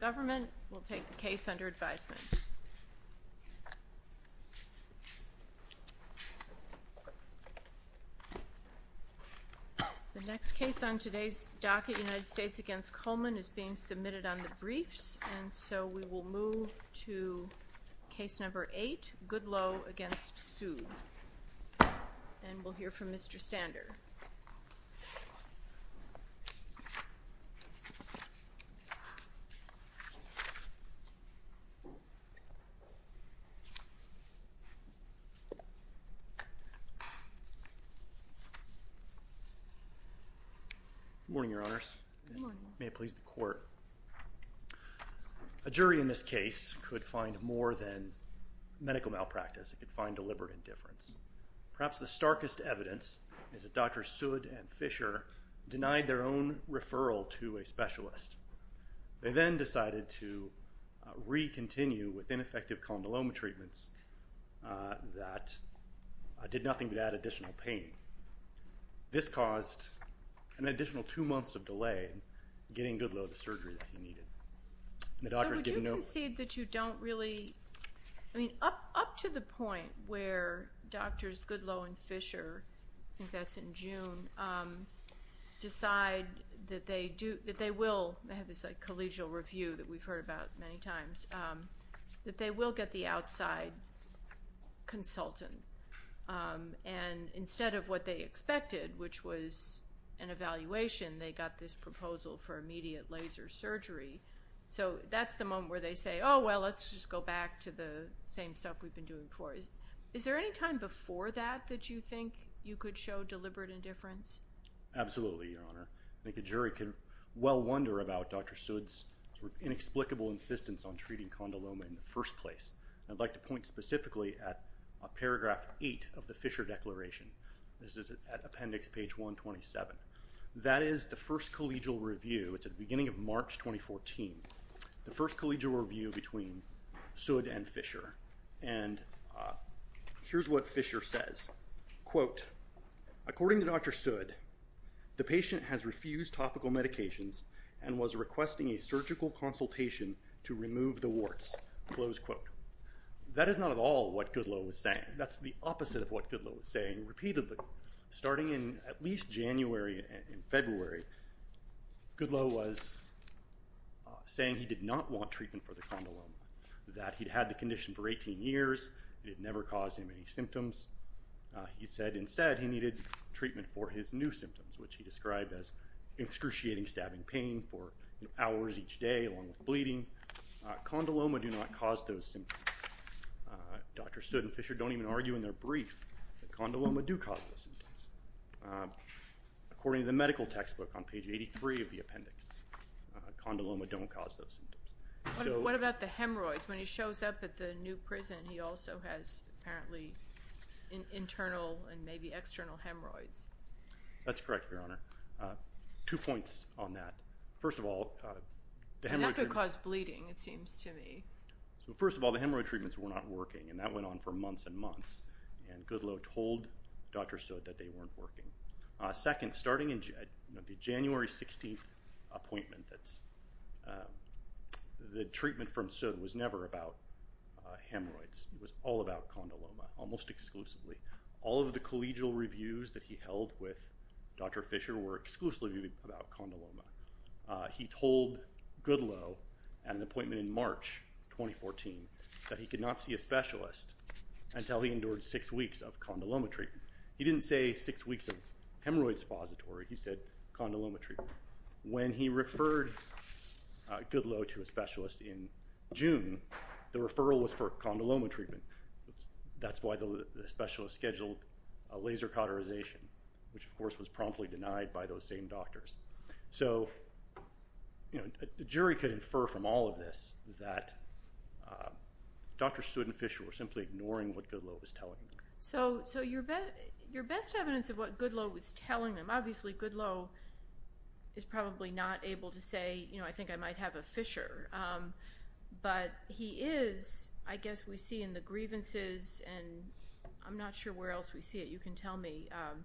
The next case on today's docket, United States v. Coleman, is being submitted on the briefs and so we will move to case number 8, Goodloe v. Sood, and we'll hear from Mr. Stander. Good morning, your honors. May it please the court. A jury in this case could find more than medical malpractice, it could find deliberate indifference. Perhaps the starkest evidence is that Dr. Sood and Fisher denied their own referral to a specialist. They then decided to re-continue with ineffective condyloma treatments that did nothing but add additional pain. This caused an additional two months of delay in getting Goodloe the surgery that he needed. So would you concede that you don't really, I mean up to the point where doctors Goodloe and Fisher, I think that's in June, decide that they will, they have this collegial review that we've heard about many times, that they will get the outside consultant. And instead of what they expected, which was an evaluation, they got this proposal for immediate laser surgery. So that's the moment where they say, oh well, let's just go back to the same stuff we've been doing before. Is there any time before that that you think you could show deliberate indifference? Absolutely, Your Honor. I think a jury could well wonder about Dr. Sood's inexplicable insistence on treating condyloma in the first place. I'd like to point specifically at paragraph 8 of the Fisher declaration. This is at appendix page 127. That is the first collegial review. It's at the beginning of March 2014. The first collegial review between Sood and Fisher. And here's what Fisher says, quote, according to Dr. Sood, the patient has refused topical medications and was requesting a surgical consultation to remove the warts. Close quote. That is not at all what Goodloe was saying. That's the opposite of what Goodloe was saying repeatedly. Starting in at least January and February, Goodloe was saying he did not want treatment for the condyloma, that he'd had the condition for 18 years, it had never caused him any symptoms. He said instead he needed treatment for his new symptoms, which he described as excruciating stabbing pain for hours each day along with bleeding. Condyloma do not cause those symptoms. Dr. Sood and Fisher don't even argue in their brief that condyloma do cause those symptoms. According to the medical textbook on page 83 of the appendix, condyloma don't cause those symptoms. What about the hemorrhoids? When he shows up at the new prison, he also has apparently internal and maybe external hemorrhoids. That's correct, Your Honor. Two points on that. First of all, the hemorrhoids— That could cause bleeding, it seems to me. First of all, the hemorrhoid treatments were not working, and that went on for months and months. Goodloe told Dr. Sood that they weren't working. Second, starting in the January 16th appointment, the treatment from Sood was never about hemorrhoids. It was all about condyloma, almost exclusively. All of the collegial reviews that he held with Dr. Fisher were exclusively about condyloma. He told Goodloe at an appointment in March 2014 that he could not see a specialist until he endured six weeks of condyloma treatment. He didn't say six weeks of hemorrhoid suppository. He said condyloma treatment. When he referred Goodloe to a specialist in June, the referral was for condyloma treatment. That's why the specialist scheduled a laser cauterization, which, of course, was promptly denied by those same doctors. So the jury could infer from all of this that Dr. Sood and Fisher were simply ignoring what Goodloe was telling them. So your best evidence of what Goodloe was telling them—obviously, Goodloe is probably not able to say, you know, I think I might have a Fisher. But he is, I guess we see in the grievances, and I'm not sure where else we see it. You can tell me. But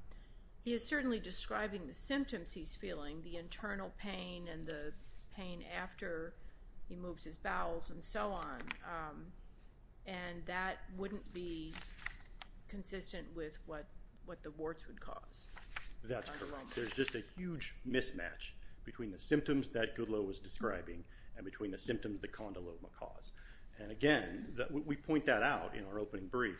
he is certainly describing the symptoms he's feeling, the internal pain and the pain after he moves his bowels and so on. And that wouldn't be consistent with what the warts would cause. That's correct. There's just a huge mismatch between the symptoms that Goodloe was describing and between the symptoms that condyloma caused. And again, we point that out in our opening brief.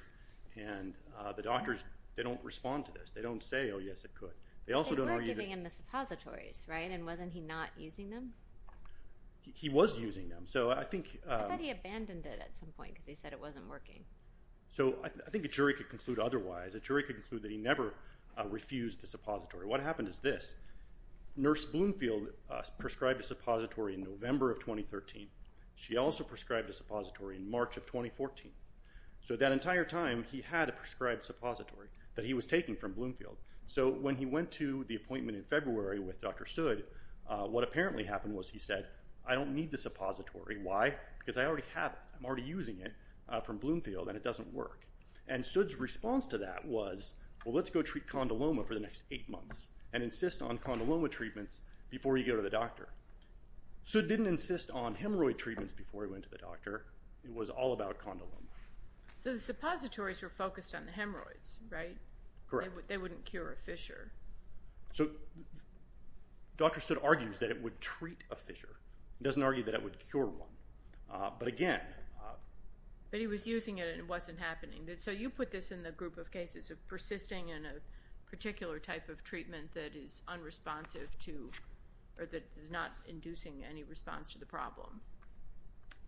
And the doctors, they don't respond to this. They don't say, oh, yes, it could. They also don't argue that— They weren't giving him the suppositories, right? And wasn't he not using them? He was using them. So I think— I thought he abandoned it at some point because he said it wasn't working. So I think a jury could conclude otherwise. A jury could conclude that he never refused the suppository. What happened is this. Nurse Bloomfield prescribed a suppository in November of 2013. She also prescribed a suppository in March of 2014. So that entire time, he had a prescribed suppository that he was taking from Bloomfield. So when he went to the appointment in February with Dr. Sood, what apparently happened was he said, I don't need the suppository. Why? Because I already have it. I'm already using it from Bloomfield, and it doesn't work. And Sood's response to that was, well, let's go treat condyloma for the next eight months and insist on condyloma treatments before you go to the doctor. Sood didn't insist on hemorrhoid treatments before he went to the doctor. It was all about condyloma. So the suppositories were focused on the hemorrhoids, right? Correct. They wouldn't cure a fissure. So Dr. Sood argues that it would treat a fissure. He doesn't argue that it would cure one. But he was using it, and it wasn't happening. So you put this in the group of cases of persisting in a particular type of treatment that is unresponsive to or that is not inducing any response to the problem.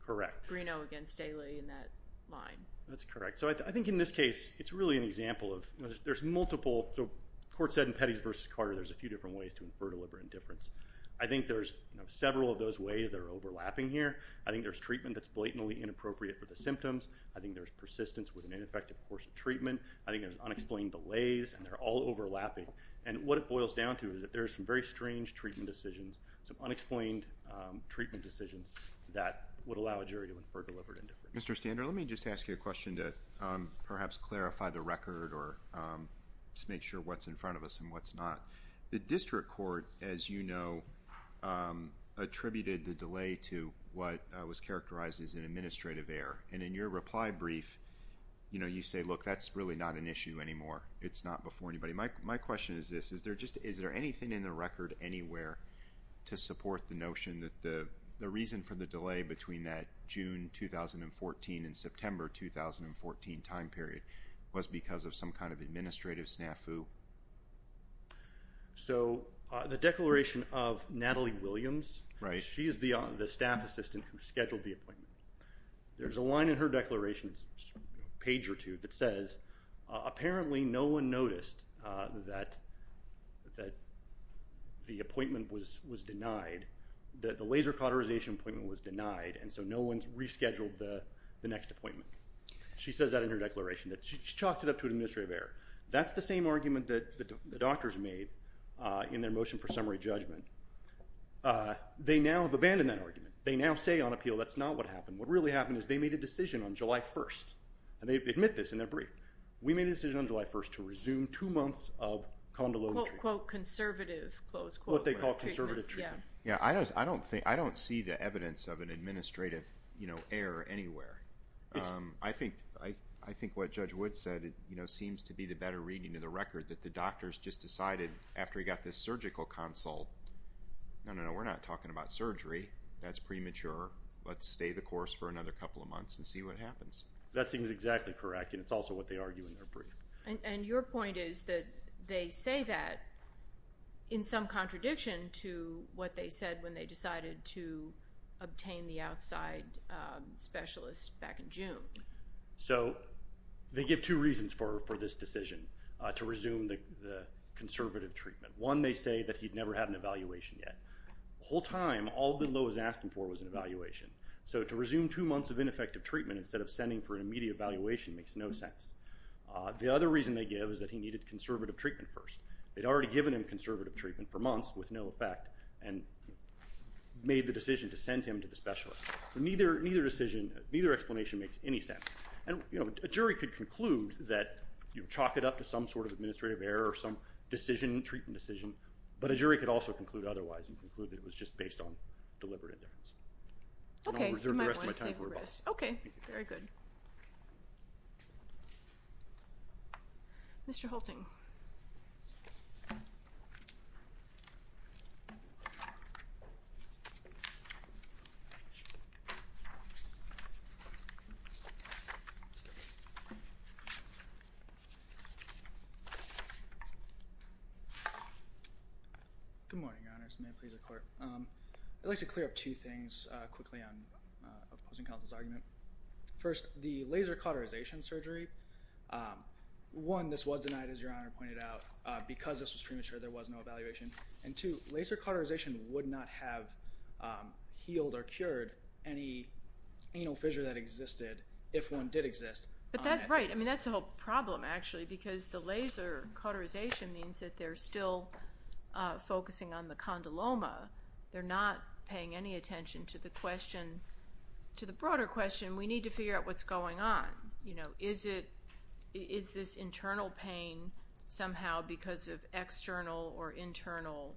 Correct. Greeno against Daley in that line. That's correct. So I think in this case, it's really an example of there's multiple. So the court said in Pettis v. Carter, there's a few different ways to infer deliberate indifference. I think there's several of those ways that are overlapping here. I think there's treatment that's blatantly inappropriate for the symptoms. I think there's persistence with an ineffective course of treatment. I think there's unexplained delays, and they're all overlapping. And what it boils down to is that there's some very strange treatment decisions, some unexplained treatment decisions that would allow a jury to infer deliberate indifference. Mr. Stander, let me just ask you a question to perhaps clarify the record or just make sure what's in front of us and what's not. The district court, as you know, attributed the delay to what was characterized as an administrative error. And in your reply brief, you say, look, that's really not an issue anymore. It's not before anybody. My question is this. Is there anything in the record anywhere to support the notion that the reason for the delay between that June 2014 and September 2014 time period was because of some kind of administrative snafu? So the declaration of Natalie Williams, she is the staff assistant who scheduled the appointment. There's a line in her declaration, a page or two, that says, apparently no one noticed that the appointment was denied, that the laser cauterization appointment was denied, and so no one rescheduled the next appointment. She says that in her declaration, that she chalked it up to an administrative error. That's the same argument that the doctors made in their motion for summary judgment. They now have abandoned that argument. They now say on appeal that's not what happened. What really happened is they made a decision on July 1st, and they admit this in their brief. We made a decision on July 1st to resume two months of condylometry. Quote, quote, conservative, close quote. What they call conservative treatment. Yeah, I don't see the evidence of an administrative error anywhere. I think what Judge Wood said seems to be the better reading of the record, that the doctors just decided after he got this surgical consult, no, no, no, we're not talking about surgery. That's premature. Let's stay the course for another couple of months and see what happens. That seems exactly correct, and it's also what they argue in their brief. And your point is that they say that in some contradiction to what they said when they decided to obtain the outside specialist back in June. So they give two reasons for this decision to resume the conservative treatment. One, they say that he'd never had an evaluation yet. The whole time, all that Lowe was asking for was an evaluation. So to resume two months of ineffective treatment instead of sending for an immediate evaluation makes no sense. The other reason they give is that he needed conservative treatment first. They'd already given him conservative treatment for months with no effect and made the decision to send him to the specialist. Neither explanation makes any sense. And a jury could conclude that you chalk it up to some sort of administrative error or some decision, treatment decision, but a jury could also conclude otherwise and conclude that it was just based on deliberate indifference. Okay. And I'll reserve the rest of my time for rebuttal. Okay. Very good. Mr. Hulting. Good morning, Your Honors. I'd like to clear up two things quickly on opposing counsel's argument. First, the laser cauterization surgery, one, this was denied, as Your Honor pointed out. Because this was premature, there was no evaluation. And two, laser cauterization would not have healed or cured any anal fissure that existed if one did exist. But that's right. They're not paying any attention to the question, to the broader question. We need to figure out what's going on. You know, is this internal pain somehow because of external or internal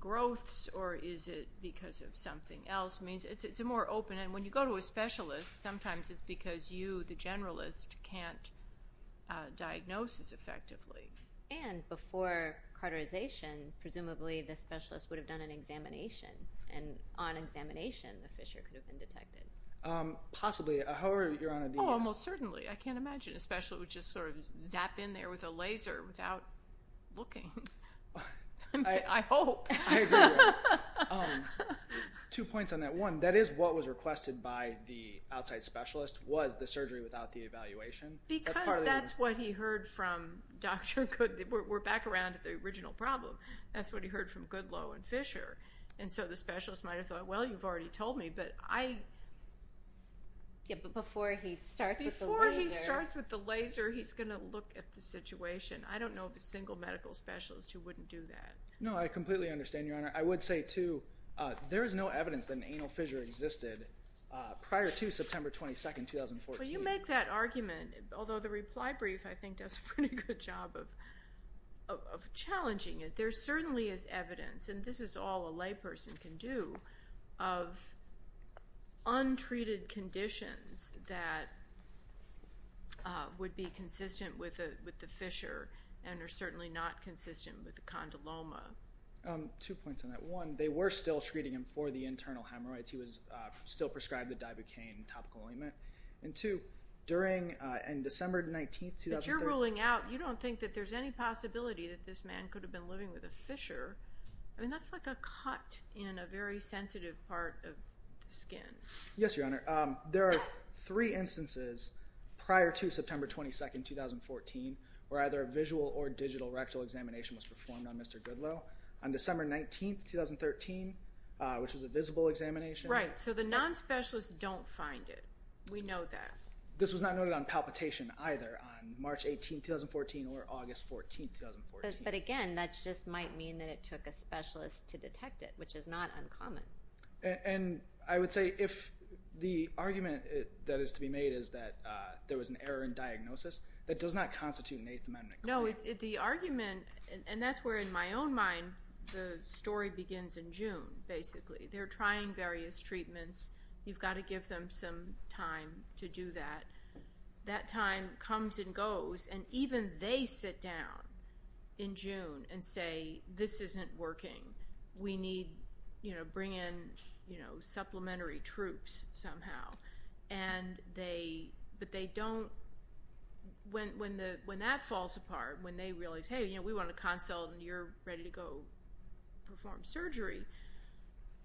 growths or is it because of something else? I mean, it's a more open end. When you go to a specialist, sometimes it's because you, the generalist, can't diagnose this effectively. And before cauterization, presumably the specialist would have done an examination. And on examination, the fissure could have been detected. Possibly. However, Your Honor, the – Oh, almost certainly. I can't imagine a specialist would just sort of zap in there with a laser without looking. I mean, I hope. I agree with that. Two points on that. One, that is what was requested by the outside specialist was the surgery without the evaluation. Because that's what he heard from Dr. Good – we're back around to the original problem. That's what he heard from Goodloe and Fisher. And so the specialist might have thought, well, you've already told me, but I – Yeah, but before he starts with the laser – Before he starts with the laser, he's going to look at the situation. I don't know of a single medical specialist who wouldn't do that. No, I completely understand, Your Honor. I would say, too, there is no evidence that an anal fissure existed prior to September 22, 2014. Well, you make that argument, although the reply brief, I think, does a pretty good job of challenging it. There certainly is evidence, and this is all a layperson can do, of untreated conditions that would be consistent with the fissure and are certainly not consistent with the condyloma. Two points on that. One, they were still treating him for the internal hemorrhoids. He was still prescribed the Dibucaine topical ointment. And two, during – on December 19, 2013 – But you're ruling out – you don't think that there's any possibility that this man could have been living with a fissure. I mean, that's like a cut in a very sensitive part of the skin. Yes, Your Honor. There are three instances prior to September 22, 2014 where either a visual or digital rectal examination was performed on Mr. Goodloe. On December 19, 2013, which was a visible examination – So the non-specialists don't find it. We know that. This was not noted on palpitation either on March 18, 2014 or August 14, 2014. But again, that just might mean that it took a specialist to detect it, which is not uncommon. And I would say if the argument that is to be made is that there was an error in diagnosis, that does not constitute an Eighth Amendment claim. No, the argument – and that's where, in my own mind, the story begins in June, basically. They're trying various treatments. You've got to give them some time to do that. That time comes and goes, and even they sit down in June and say, This isn't working. We need to bring in supplementary troops somehow. But they don't – when that falls apart, when they realize, Hey, we want a consult, and you're ready to go perform surgery,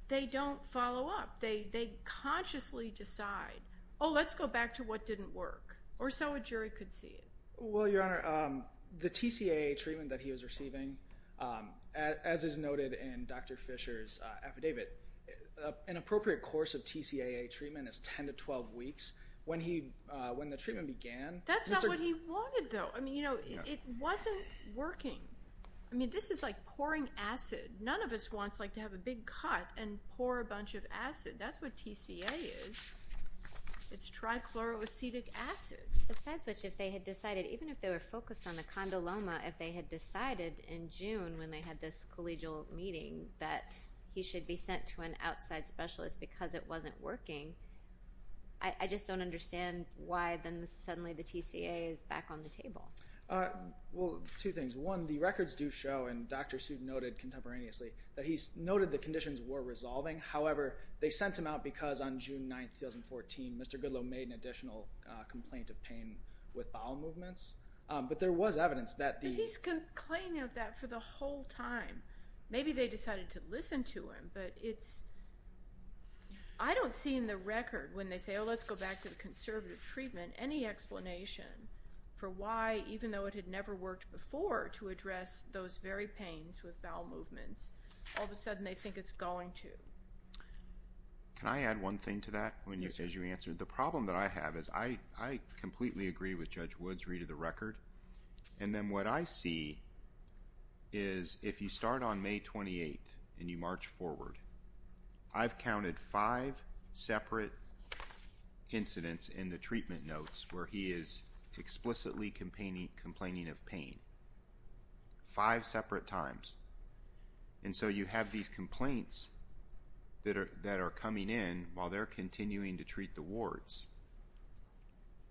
they don't follow up. They consciously decide, Oh, let's go back to what didn't work, or so a jury could see it. Well, Your Honor, the TCAA treatment that he was receiving, as is noted in Dr. Fisher's affidavit, an appropriate course of TCAA treatment is 10 to 12 weeks. When the treatment began – That's not what he wanted, though. I mean, it wasn't working. I mean, this is like pouring acid. None of us wants to have a big cut and pour a bunch of acid. That's what TCAA is. It's trichloroacetic acid. Besides which, if they had decided, even if they were focused on the condyloma, if they had decided in June when they had this collegial meeting that he should be sent to an outside specialist because it wasn't working, I just don't understand why then suddenly the TCAA is back on the table. Well, two things. One, the records do show, and Dr. Seuss noted contemporaneously, that he's noted the conditions were resolving. However, they sent him out because on June 9, 2014, Mr. Goodloe made an additional complaint of pain with bowel movements. But there was evidence that these— But he's complaining of that for the whole time. Maybe they decided to listen to him, but it's— I don't see in the record when they say, Oh, let's go back to the conservative treatment, any explanation for why, even though it had never worked before, to address those very pains with bowel movements, all of a sudden they think it's going to. Can I add one thing to that? Yes. The problem that I have is I completely agree with Judge Wood's read of the record. And then what I see is if you start on May 28 and you march forward, I've counted five separate incidents in the treatment notes where he is explicitly complaining of pain, five separate times. And so you have these complaints that are coming in while they're continuing to treat the wards,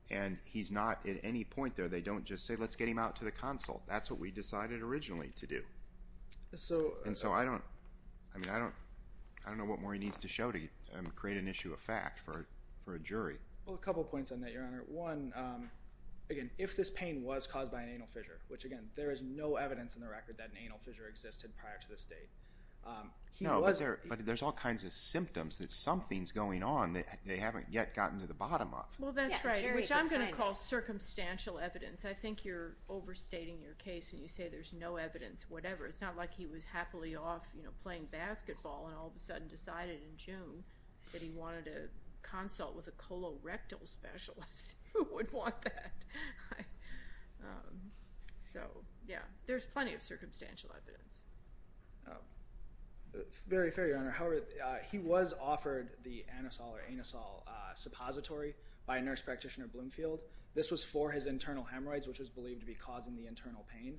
and he's not at any point there. They don't just say, Let's get him out to the consult. That's what we decided originally to do. And so I don't know what more he needs to show to create an issue of fact for a jury. Well, a couple of points on that, Your Honor. One, again, if this pain was caused by an anal fissure, which again, there is no evidence in the record that an anal fissure existed prior to this date. No, but there's all kinds of symptoms that something's going on that they haven't yet gotten to the bottom of. Well, that's right, which I'm going to call circumstantial evidence. I think you're overstating your case when you say there's no evidence, whatever. It's not like he was happily off playing basketball and all of a sudden decided in June that he wanted to consult with a colorectal specialist who would want that. So, yeah, there's plenty of circumstantial evidence. Very fair, Your Honor. However, he was offered the anusol or anusol suppository by a nurse practitioner at Bloomfield. This was for his internal hemorrhoids, which was believed to be causing the internal pain.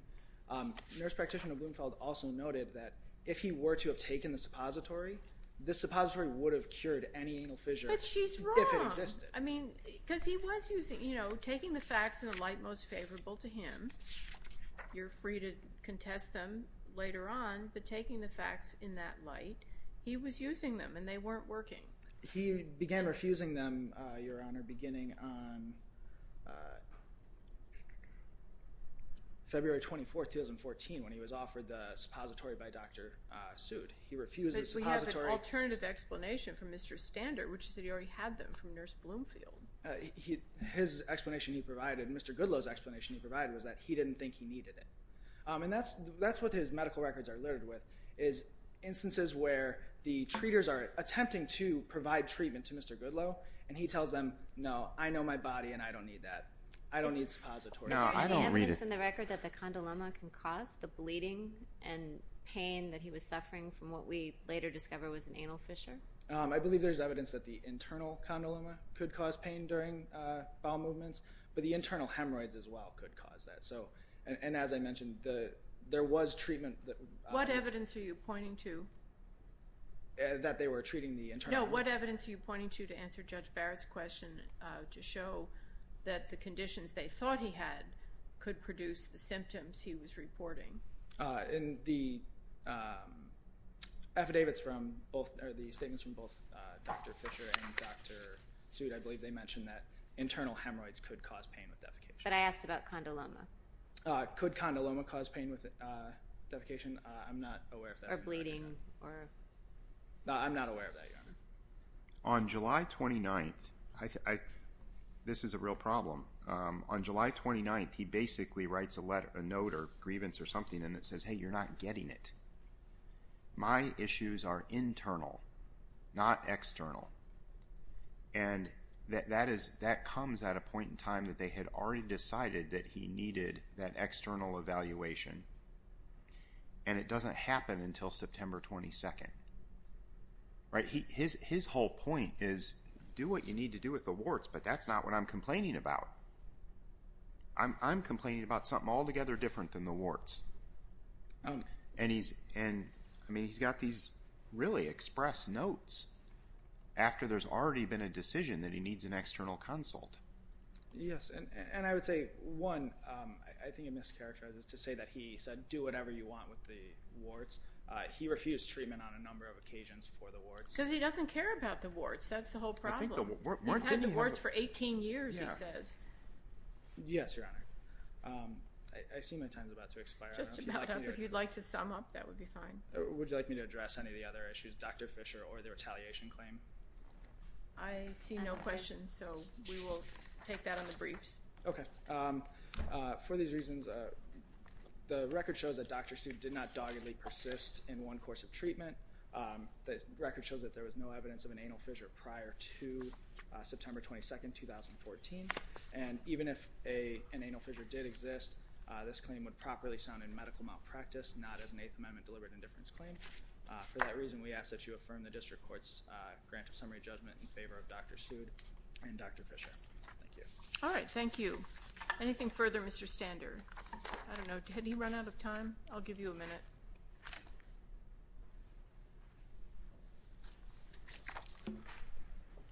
The nurse practitioner at Bloomfield also noted that if he were to have taken the suppository, this suppository would have cured any anal fissure if it existed. But she's wrong. I mean, because he was using, you know, taking the facts in the light most favorable to him. You're free to contest them later on, but taking the facts in that light, he was using them and they weren't working. He began refusing them, Your Honor, beginning on February 24, 2014 when he was offered the suppository by Dr. Soot. He refused the suppository. But we have an alternative explanation from Mr. Stander, which is that he already had them from Nurse Bloomfield. His explanation he provided, Mr. Goodloe's explanation he provided was that he didn't think he needed it. And that's what his medical records are littered with, is instances where the treaters are attempting to provide treatment to Mr. Goodloe, and he tells them, no, I know my body and I don't need that. I don't need suppository. Now, I don't read it. Any evidence in the record that the condyloma can cause the bleeding and pain that he was suffering from what we later discovered was an anal fissure? I believe there's evidence that the internal condyloma could cause pain during bowel movements, but the internal hemorrhoids as well could cause that. And as I mentioned, there was treatment. What evidence are you pointing to? That they were treating the internal hemorrhoids. No, what evidence are you pointing to to answer Judge Barrett's question to show that the conditions they thought he had could produce the symptoms he was reporting? In the affidavits from both, or the statements from both Dr. Fisher and Dr. Soot, I believe they mentioned that internal hemorrhoids could cause pain with defecation. But I asked about condyloma. Could condyloma cause pain with defecation? I'm not aware of that. Or bleeding. I'm not aware of that, Your Honor. On July 29th, this is a real problem. On July 29th, he basically writes a note or a grievance or something, and it says, hey, you're not getting it. My issues are internal, not external. And that comes at a point in time that they had already decided that he needed that external evaluation, and it doesn't happen until September 22nd. His whole point is, do what you need to do with the warts, but that's not what I'm complaining about. I'm complaining about something altogether different than the warts. And he's got these really express notes after there's already been a decision that he needs an external consult. Yes. And I would say, one, I think it mischaracterizes to say that he said, do whatever you want with the warts. He refused treatment on a number of occasions for the warts. Because he doesn't care about the warts. That's the whole problem. He's had the warts for 18 years, he says. Yes, Your Honor. I see my time is about to expire. Just about up. If you'd like to sum up, that would be fine. Would you like me to address any of the other issues, Dr. Fisher or the retaliation claim? I see no questions, so we will take that on the briefs. Okay. For these reasons, the record shows that Dr. Sue did not doggedly persist in one course of treatment. The record shows that there was no evidence of an anal fissure prior to September 22nd, 2014. And even if an anal fissure did exist, this claim would properly sound in medical malpractice, not as an Eighth Amendment deliberate indifference claim. For that reason, we ask that you affirm the district court's grant of summary judgment in favor of Dr. Sue and Dr. Fisher. Thank you. All right. Thank you. Anything further, Mr. Stander? I don't know. Did he run out of time? I'll give you a minute.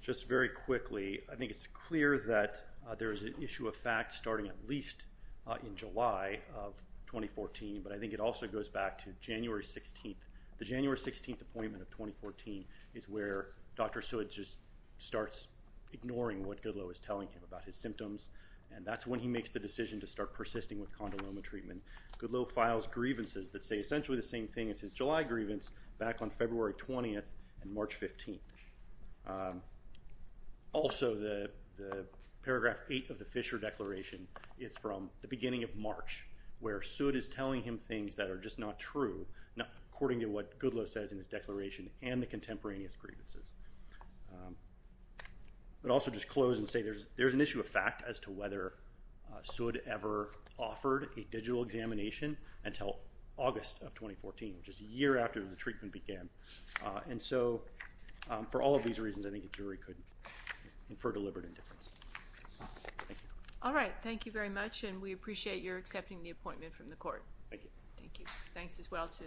Just very quickly, I think it's clear that there is an issue of fact starting at least in July of 2014, but I think it also goes back to January 16th. The January 16th appointment of 2014 is where Dr. Sue just starts ignoring what Goodloe is telling him about his symptoms, and that's when he makes the decision to start persisting with condyloma treatment. Goodloe files grievances that say essentially the same thing as his July grievance back on February 20th and March 15th. Also, the paragraph 8 of the Fisher Declaration is from the beginning of March, where Sue is telling him things that are just not true, according to what Goodloe says in his declaration and the contemporaneous grievances. But also just close and say there's an issue of fact as to whether Sue ever offered a digital examination until August of 2014, which is a year after the treatment began. And so for all of these reasons, I think a jury could infer deliberate indifference. Thank you. All right. Thank you very much, and we appreciate your accepting the appointment from the court. Thank you. Thank you. Thanks as well to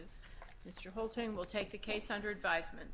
Mr. Holting. We'll take the case under advisement.